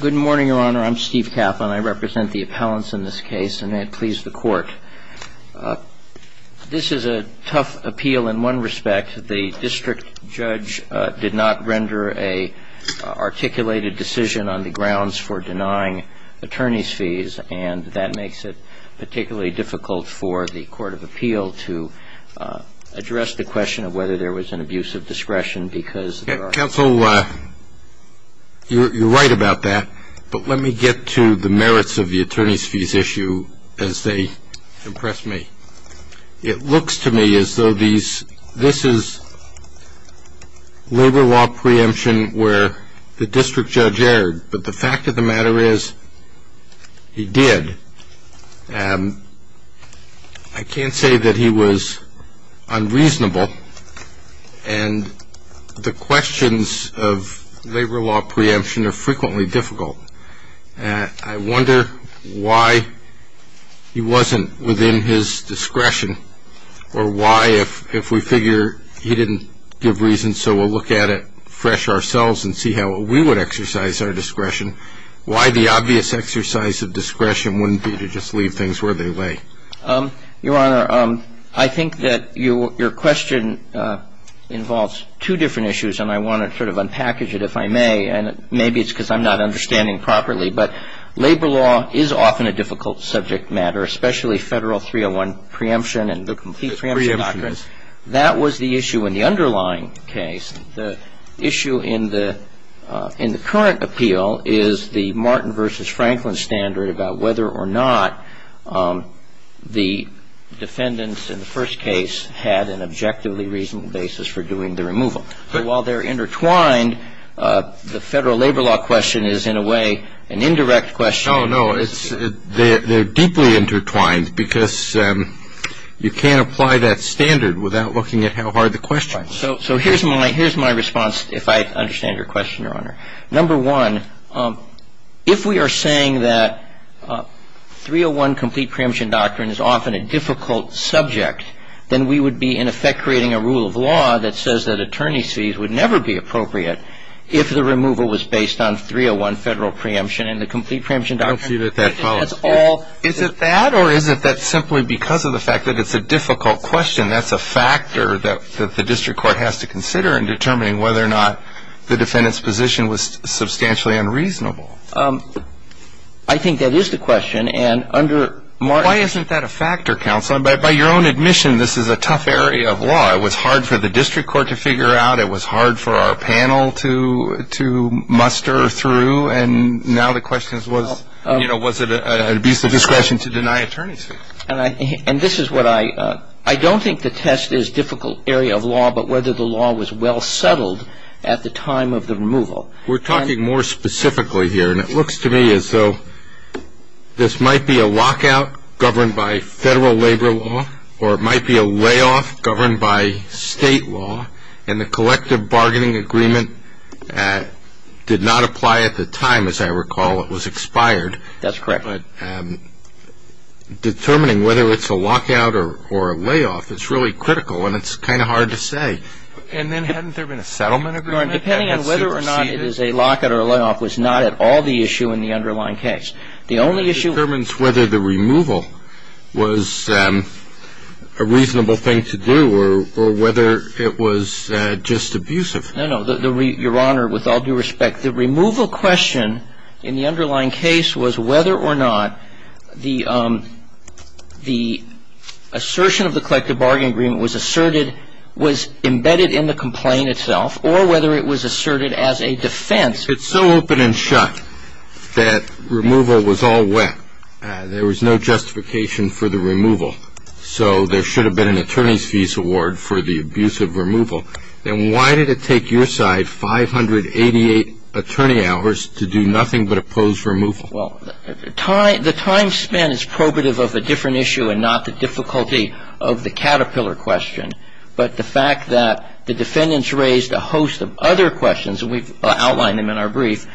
Good morning, Your Honor. I'm Steve Kaplan. I represent the appellants in this case, and may it please the Court, this is a tough appeal in one respect. The district judge did not render an articulated decision on the grounds for denying attorneys' fees, and that makes it particularly difficult for the Court of Appeal to address the question of whether there was an abuse of discretion because there are. Counsel, you're right about that, but let me get to the merits of the attorneys' fees issue as they impress me. It looks to me as though this is labor law preemption where the district judge erred, but the fact of the matter is he did. I can't say that he was unreasonable, and the questions of labor law preemption are frequently difficult. I wonder why he wasn't within his discretion or why, if we figure he didn't give reason, so we'll look at it fresh ourselves and see how we would exercise our discretion, why the obvious exercise of discretion wouldn't be to just leave things where they lay. Your Honor, I think that your question involves two different issues, and I want to sort of unpackage it if I may, and maybe it's because I'm not understanding properly, but labor law is often a difficult subject matter, especially Federal 301 preemption and the complete preemption doctrine. Preemption. The Federal labor law question is, what is the reason that the Federal labor law question is not in the underlying case? That was the issue in the underlying case. The issue in the current appeal is the Martin v. Franklin standard about whether or not the defendants in the first case had an objectively reasonable basis for doing the removal. So while they're intertwined, the Federal labor law question is, in a way, an indirect question. No, no. They're deeply intertwined because you can't apply that standard without looking at how hard the question is. So here's my response, if I understand your question, Your Honor. Number one, if we are saying that 301 complete preemption doctrine is often a difficult subject, then we would be in effect creating a rule of law that says that attorney's fees would never be appropriate if the removal was based on 301 Federal preemption and the complete preemption doctrine. I don't see that that follows. Is it that or is it that simply because of the fact that it's a difficult question, that's a factor that the district court has to consider in determining whether or not the defendant's position was substantially unreasonable? I think that is the question. Why isn't that a factor, counsel? By your own admission, this is a tough area of law. It was hard for the district court to figure out. It was hard for our panel to muster through. And now the question is was it an abuse of discretion to deny attorney's fees? And this is what I don't think the test is difficult area of law, but whether the law was well settled at the time of the removal. We're talking more specifically here. And it looks to me as though this might be a lockout governed by federal labor law or it might be a layoff governed by state law, and the collective bargaining agreement did not apply at the time, as I recall. It was expired. That's correct. But determining whether it's a lockout or a layoff, it's really critical, and it's kind of hard to say. And then hadn't there been a settlement agreement? Your Honor, depending on whether or not it is a lockout or a layoff was not at all the issue in the underlying case. The only issue was whether the removal was a reasonable thing to do or whether it was just abusive. No, no. Your Honor, with all due respect, the removal question in the underlying case was whether or not the assertion of the collective bargaining agreement was asserted in the complaint itself or whether it was asserted as a defense. If it's so open and shut that removal was all wet, there was no justification for the removal, so there should have been an attorney's fees award for the abuse of removal, then why did it take your side 588 attorney hours to do nothing but oppose removal? Well, the time spent is probative of a different issue and not the difficulty of the Caterpillar question, but the fact that the defendants raised a host of other questions, and we've outlined them in our brief.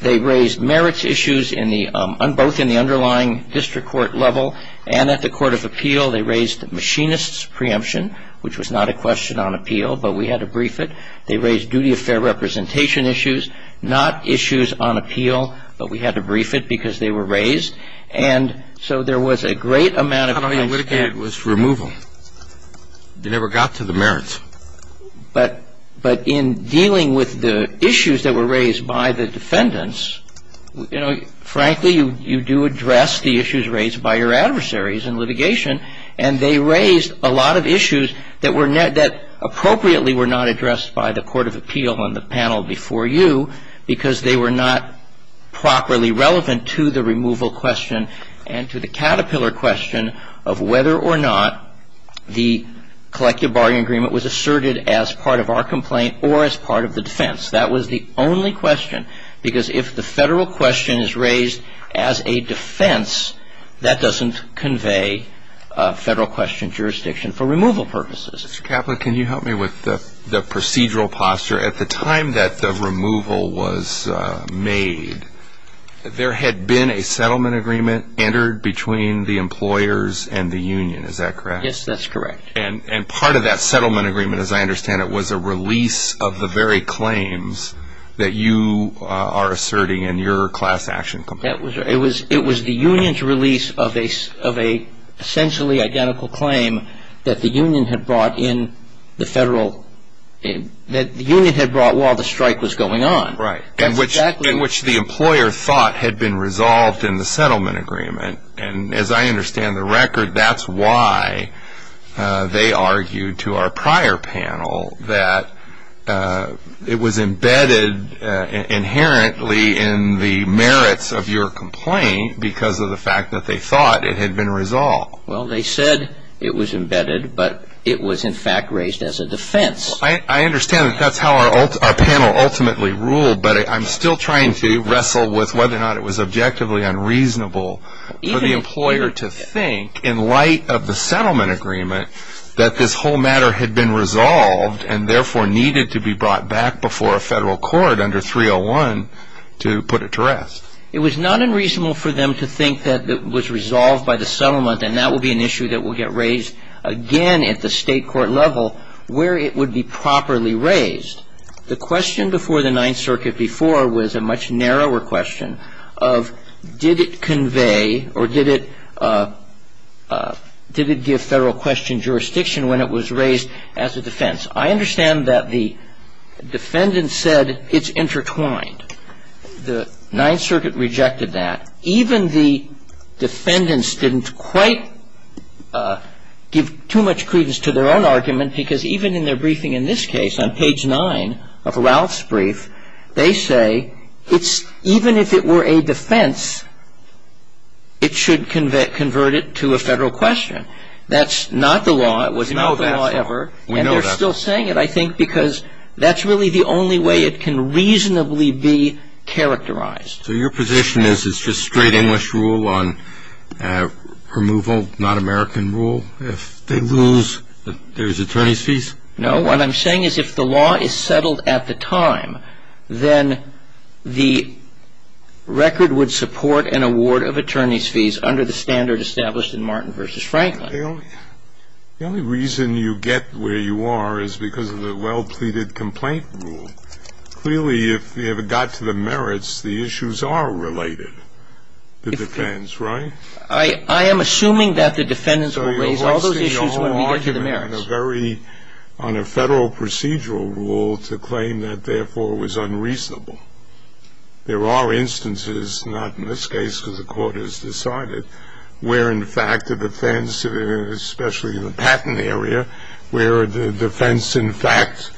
They raised merits issues both in the underlying district court level and at the court of appeal. They raised the machinist's preemption, which was not a question on appeal, but we had to brief it. They raised duty of fair representation issues, not issues on appeal, but we had to brief it because they were raised. And so there was a great amount of time spent. But all you litigated was removal. You never got to the merits. But in dealing with the issues that were raised by the defendants, you know, frankly, you do address the issues raised by your adversaries in litigation, and they raised a lot of issues that were not ñ that appropriately were not addressed by the court of appeal and the panel before you because they were not properly relevant to the removal question and to the Caterpillar question of whether or not the collective bargaining agreement was asserted as part of our complaint or as part of the defense. That was the only question because if the federal question is raised as a defense, that doesn't convey federal question jurisdiction for removal purposes. Mr. Kaplan, can you help me with the procedural posture? At the time that the removal was made, there had been a settlement agreement entered between the employers and the union. Is that correct? Yes, that's correct. And part of that settlement agreement, as I understand it, was a release of the very claims that you are asserting in your class action complaint. It was the union's release of a essentially identical claim that the union had brought in the federal ñ that the union had brought while the strike was going on. Right. In which the employer thought had been resolved in the settlement agreement. And as I understand the record, that's why they argued to our prior panel that it was embedded inherently in the merits of your complaint because of the fact that they thought it had been resolved. Well, they said it was embedded, but it was in fact raised as a defense. I understand that that's how our panel ultimately ruled, but I'm still trying to wrestle with whether or not it was objectively unreasonable for the employer to think, in light of the settlement agreement, that this whole matter had been resolved and therefore needed to be brought back before a federal court under 301 to put it to rest. It was not unreasonable for them to think that it was resolved by the settlement, and that will be an issue that will get raised again at the state court level where it would be properly raised. The question before the Ninth Circuit before was a much narrower question of did it convey or did it give federal question jurisdiction when it was raised as a defense. I understand that the defendants said it's intertwined. The Ninth Circuit rejected that. Even the defendants didn't quite give too much credence to their own argument, because even in their briefing in this case on page 9 of Ralph's brief, they say it's even if it were a defense, it should convert it to a federal question. That's not the law. It was not the law ever. We know that's not the law. And they're still saying it, I think, because that's really the only way it can reasonably be characterized. So your position is it's just straight English rule on removal, non-American rule? If they lose, there's attorney's fees? No. What I'm saying is if the law is settled at the time, then the record would support an award of attorney's fees under the standard established in Martin v. Franklin. The only reason you get where you are is because of the well-pleaded complaint rule. And clearly, if you ever got to the merits, the issues are related, the defense, right? I am assuming that the defendants will raise all those issues when we get to the merits. So you're right saying you're arguing on a very ‑‑ on a federal procedural rule to claim that, therefore, it was unreasonable. There are instances, not in this case because the Court has decided, where, in fact, the defense, especially in the patent area, where the defense, in fact,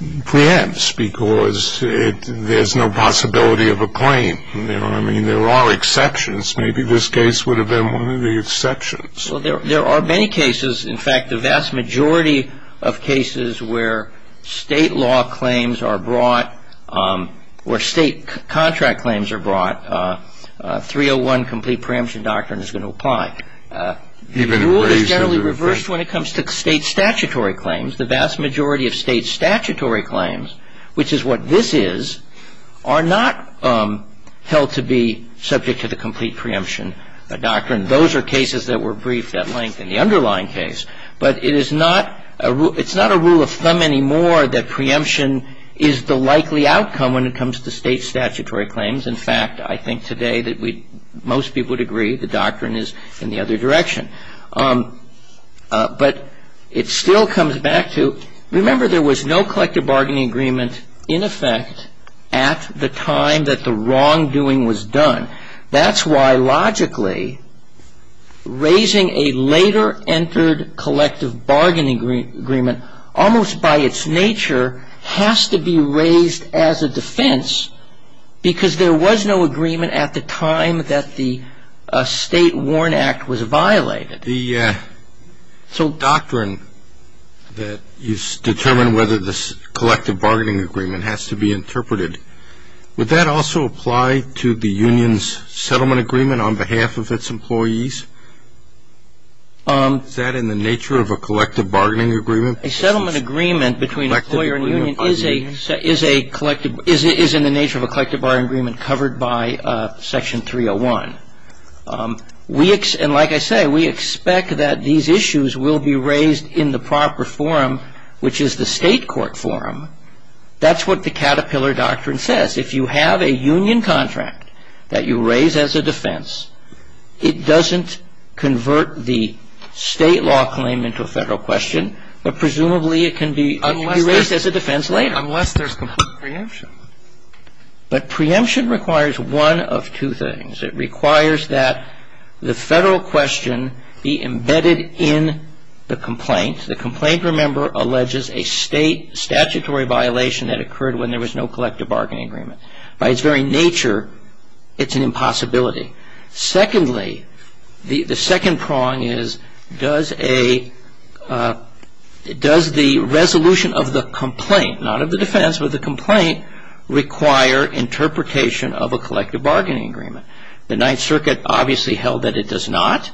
preempts because there's no possibility of a claim. You know what I mean? There are exceptions. Maybe this case would have been one of the exceptions. Well, there are many cases. In fact, the vast majority of cases where state law claims are brought, where state contract claims are brought, 301 Complete Preemption Doctrine is going to apply. The rule is generally reversed when it comes to state statutory claims. The vast majority of state statutory claims, which is what this is, are not held to be subject to the Complete Preemption Doctrine. Those are cases that were briefed at length in the underlying case. But it is not a rule of thumb anymore that preemption is the likely outcome when it comes to state statutory claims. In fact, I think today that most people would agree the doctrine is in the other direction. But it still comes back to, remember, there was no collective bargaining agreement in effect at the time that the wrongdoing was done. That's why, logically, raising a later-entered collective bargaining agreement, almost by its nature, has to be raised as a defense because there was no agreement at the time that the State Warrant Act was violated. The doctrine that you've determined whether the collective bargaining agreement has to be interpreted, would that also apply to the union's settlement agreement on behalf of its employees? Is that in the nature of a collective bargaining agreement? A settlement agreement between an employer and a union is in the nature of a collective bargaining agreement covered by Section 301. And like I say, we expect that these issues will be raised in the proper forum, which is the state court forum. That's what the Caterpillar Doctrine says. If you have a union contract that you raise as a defense, it doesn't convert the state law claim into a federal question, but presumably it can be raised as a defense later. Unless there's complete preemption. But preemption requires one of two things. It requires that the federal question be embedded in the complaint. The complaint, remember, alleges a state statutory violation that occurred when there was no collective bargaining agreement. By its very nature, it's an impossibility. Secondly, the second prong is does the resolution of the complaint, not of the defense, but the complaint, require interpretation of a collective bargaining agreement? The Ninth Circuit obviously held that it does not,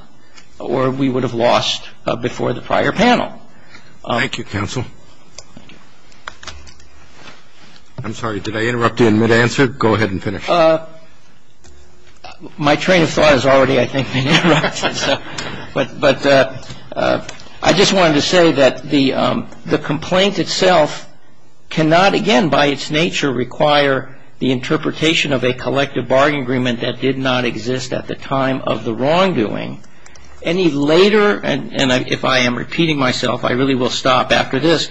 or we would have lost before the prior panel. Thank you, counsel. I'm sorry. Did I interrupt you in mid-answer? Go ahead and finish. My train of thought has already, I think, been interrupted. But I just wanted to say that the complaint itself cannot, again, by its nature, require the interpretation of a collective bargaining agreement that did not exist at the time of the wrongdoing. Any later, and if I am repeating myself, I really will stop after this.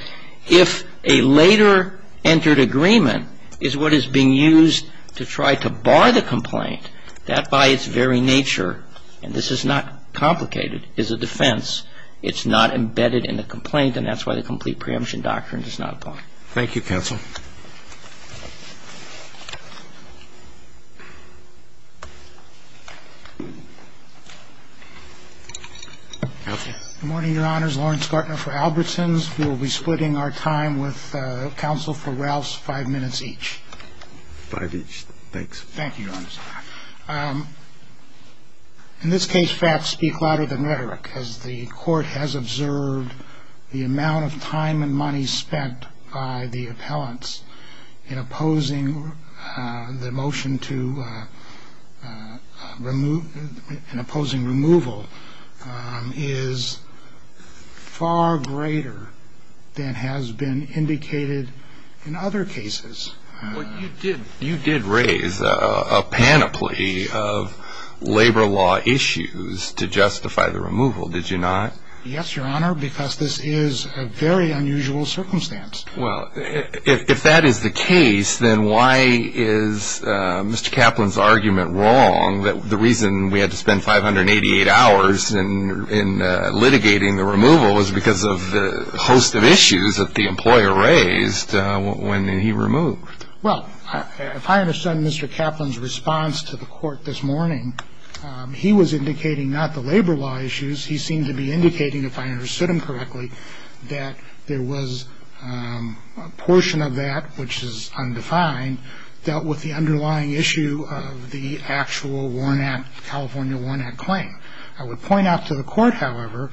If a later entered agreement is what is being used to try to bar the complaint, that by its very nature, and this is not complicated, is a defense. It's not embedded in the complaint, and that's why the complete preemption doctrine does not apply. Thank you, counsel. Good morning, Your Honors. Lawrence Gartner for Albertsons. We will be splitting our time with counsel for Ralph's five minutes each. Five each. Thanks. Thank you, Your Honors. In this case, facts speak louder than rhetoric. As the court has observed, the amount of time and money spent by the appellants in opposing the motion to remove, in opposing removal, is far greater than has been indicated in other cases. Well, you did raise a panoply of labor law issues to justify the removal, did you not? Yes, Your Honor, because this is a very unusual circumstance. Well, if that is the case, then why is Mr. Kaplan's argument wrong that the reason we had to spend 588 hours in litigating the removal was because of the host of issues that the employer raised when he removed? Well, if I understand Mr. Kaplan's response to the court this morning, he was indicating not the labor law issues. He seemed to be indicating, if I understood him correctly, that there was a portion of that, which is undefined, dealt with the underlying issue of the actual California Warrant Act claim. I would point out to the court, however,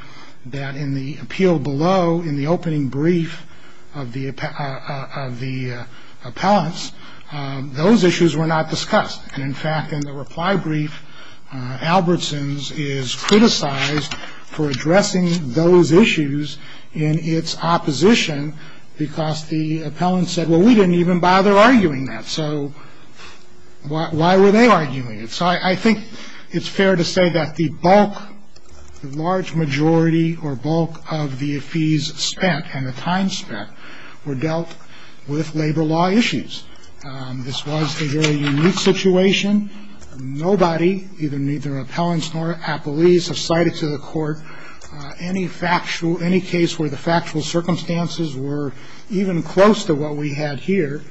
that in the appeal below, in the opening brief of the appellants, those issues were not discussed. And, in fact, in the reply brief, Albertson's is criticized for addressing those issues in its opposition because the appellants said, well, we didn't even bother arguing that. So why were they arguing it? So I think it's fair to say that the bulk, the large majority or bulk of the fees spent and the time spent were dealt with labor law issues. This was a very unique situation. Nobody, neither appellants nor appellees, have cited to the court any factual, any case where the factual circumstances were even close to what we had here.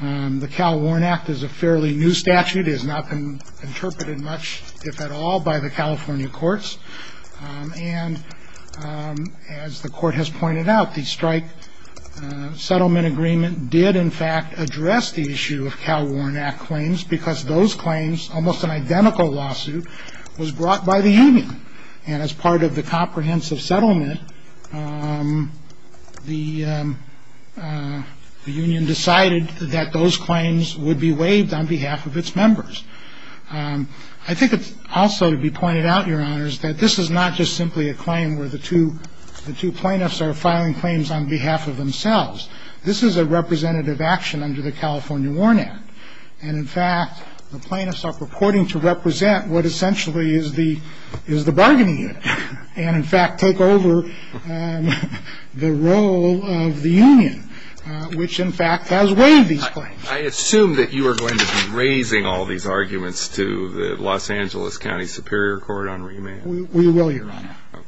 The Cal Warrant Act is a fairly new statute. It has not been interpreted much, if at all, by the California courts. And as the court has pointed out, the strike settlement agreement did, in fact, address the issue of Cal Warrant Act claims because those claims, almost an identical lawsuit, was brought by the union. And as part of the comprehensive settlement, the union decided that those claims would be waived on behalf of its members. I think it's also to be pointed out, Your Honors, that this is not just simply a claim where the two plaintiffs are filing claims on behalf of themselves. This is a representative action under the California Warrant Act. And, in fact, the plaintiffs are purporting to represent what essentially is the bargaining unit and, in fact, take over the role of the union, which, in fact, has waived these claims. I assume that you are going to be raising all these arguments to the Los Angeles County Superior Court on remand. We will, Your Honor. Okay.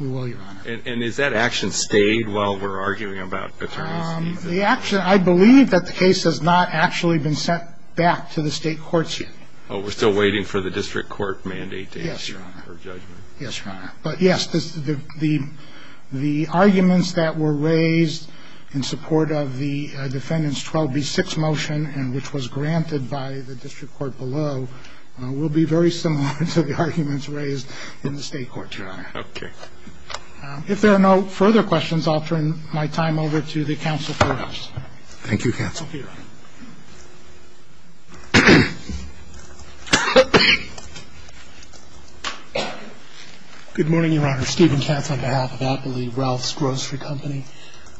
We will, Your Honor. And is that action stayed while we're arguing about attorneys? The action, I believe that the case has not actually been sent back to the state courts yet. Oh, we're still waiting for the district court mandate to issue a judgment. Yes, Your Honor. Yes, Your Honor. But, yes, the arguments that were raised in support of the defendant's 12B6 motion, which was granted by the district court below, will be very similar to the arguments raised in the state courts, Your Honor. Okay. If there are no further questions, I'll turn my time over to the counsel for us. Thank you, counsel. Thank you, Your Honor. Good morning, Your Honor. Steven Katz on behalf of Appley Wealths Grocery Company.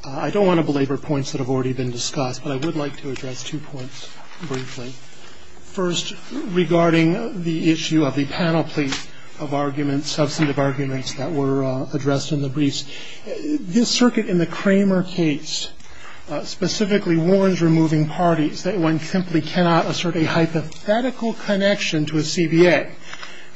I don't want to belabor points that have already been discussed, but I would like to address two points briefly. First, regarding the issue of the panel plea of arguments, substantive arguments that were addressed in the briefs. This circuit in the Kramer case specifically warns removing parties that one simply cannot assert a hypothetical connection to a CBA.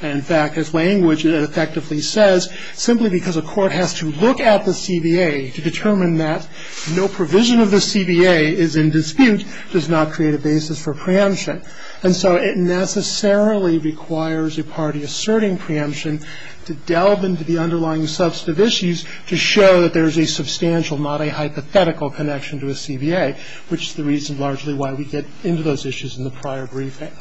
And, in fact, as language effectively says, simply because a court has to look at the CBA to determine that no provision of the CBA is in dispute does not create a basis for preemption. And so it necessarily requires a party asserting preemption to delve into the underlying substantive issues to show that there is a substantial, not a hypothetical, connection to a CBA, which is the reason largely why we get into those issues in the prior briefing.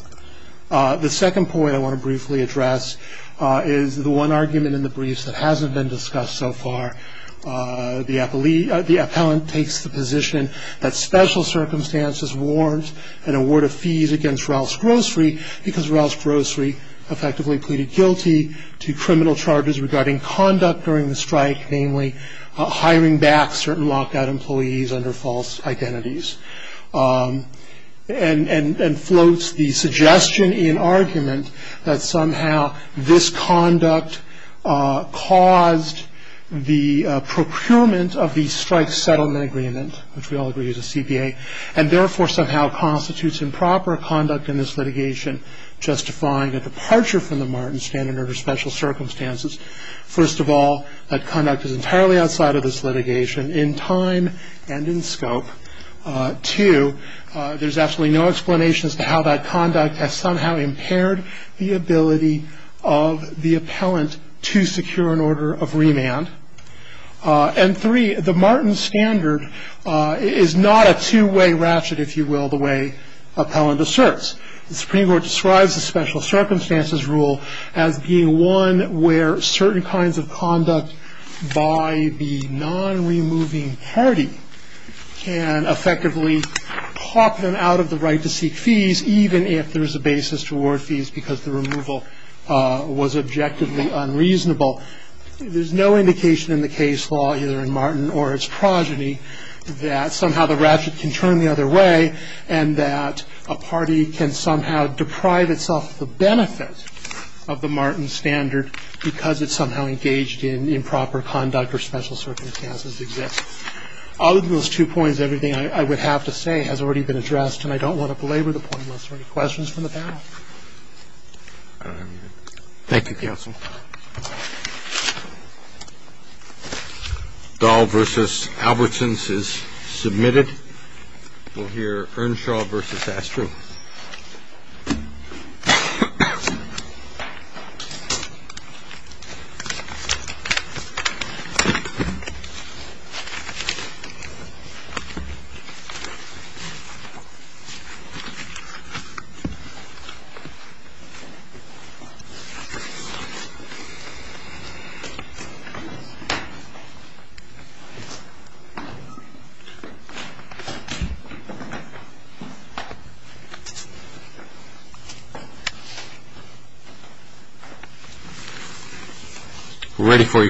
The second point I want to briefly address is the one argument in the briefs that hasn't been discussed so far. The appellant takes the position that special circumstances warrant an award of fees against Wealths Grocery because Wealths Grocery effectively pleaded guilty to criminal charges regarding conduct during the strike, namely hiring back certain lockout employees under false identities. And floats the suggestion in argument that somehow this conduct caused the procurement of the strike settlement agreement, which we all agree is a CBA, and therefore somehow constitutes improper conduct in this litigation justifying a departure from the Martin standard under special circumstances. First of all, that conduct is entirely outside of this litigation in time and in scope Two, there's absolutely no explanation as to how that conduct has somehow impaired the ability of the appellant to secure an order of remand. And three, the Martin standard is not a two-way ratchet, if you will, the way appellant asserts. The Supreme Court describes the special circumstances rule as being one where certain kinds of conduct by the non-removing party can effectively hop them out of the right to seek fees, even if there is a basis to award fees because the removal was objectively unreasonable. There's no indication in the case law, either in Martin or its progeny, that somehow the ratchet can turn the other way and that a party can somehow deprive itself of the benefit of the Martin standard because it's somehow engaged in improper conduct or special circumstances exists. Other than those two points, everything I would have to say has already been addressed, and I don't want to belabor the point unless there are any questions from the panel. Thank you, counsel. Dahl v. Albertsons is submitted. We'll hear Earnshaw v. Astry. Thank you. We're ready for you, counsel.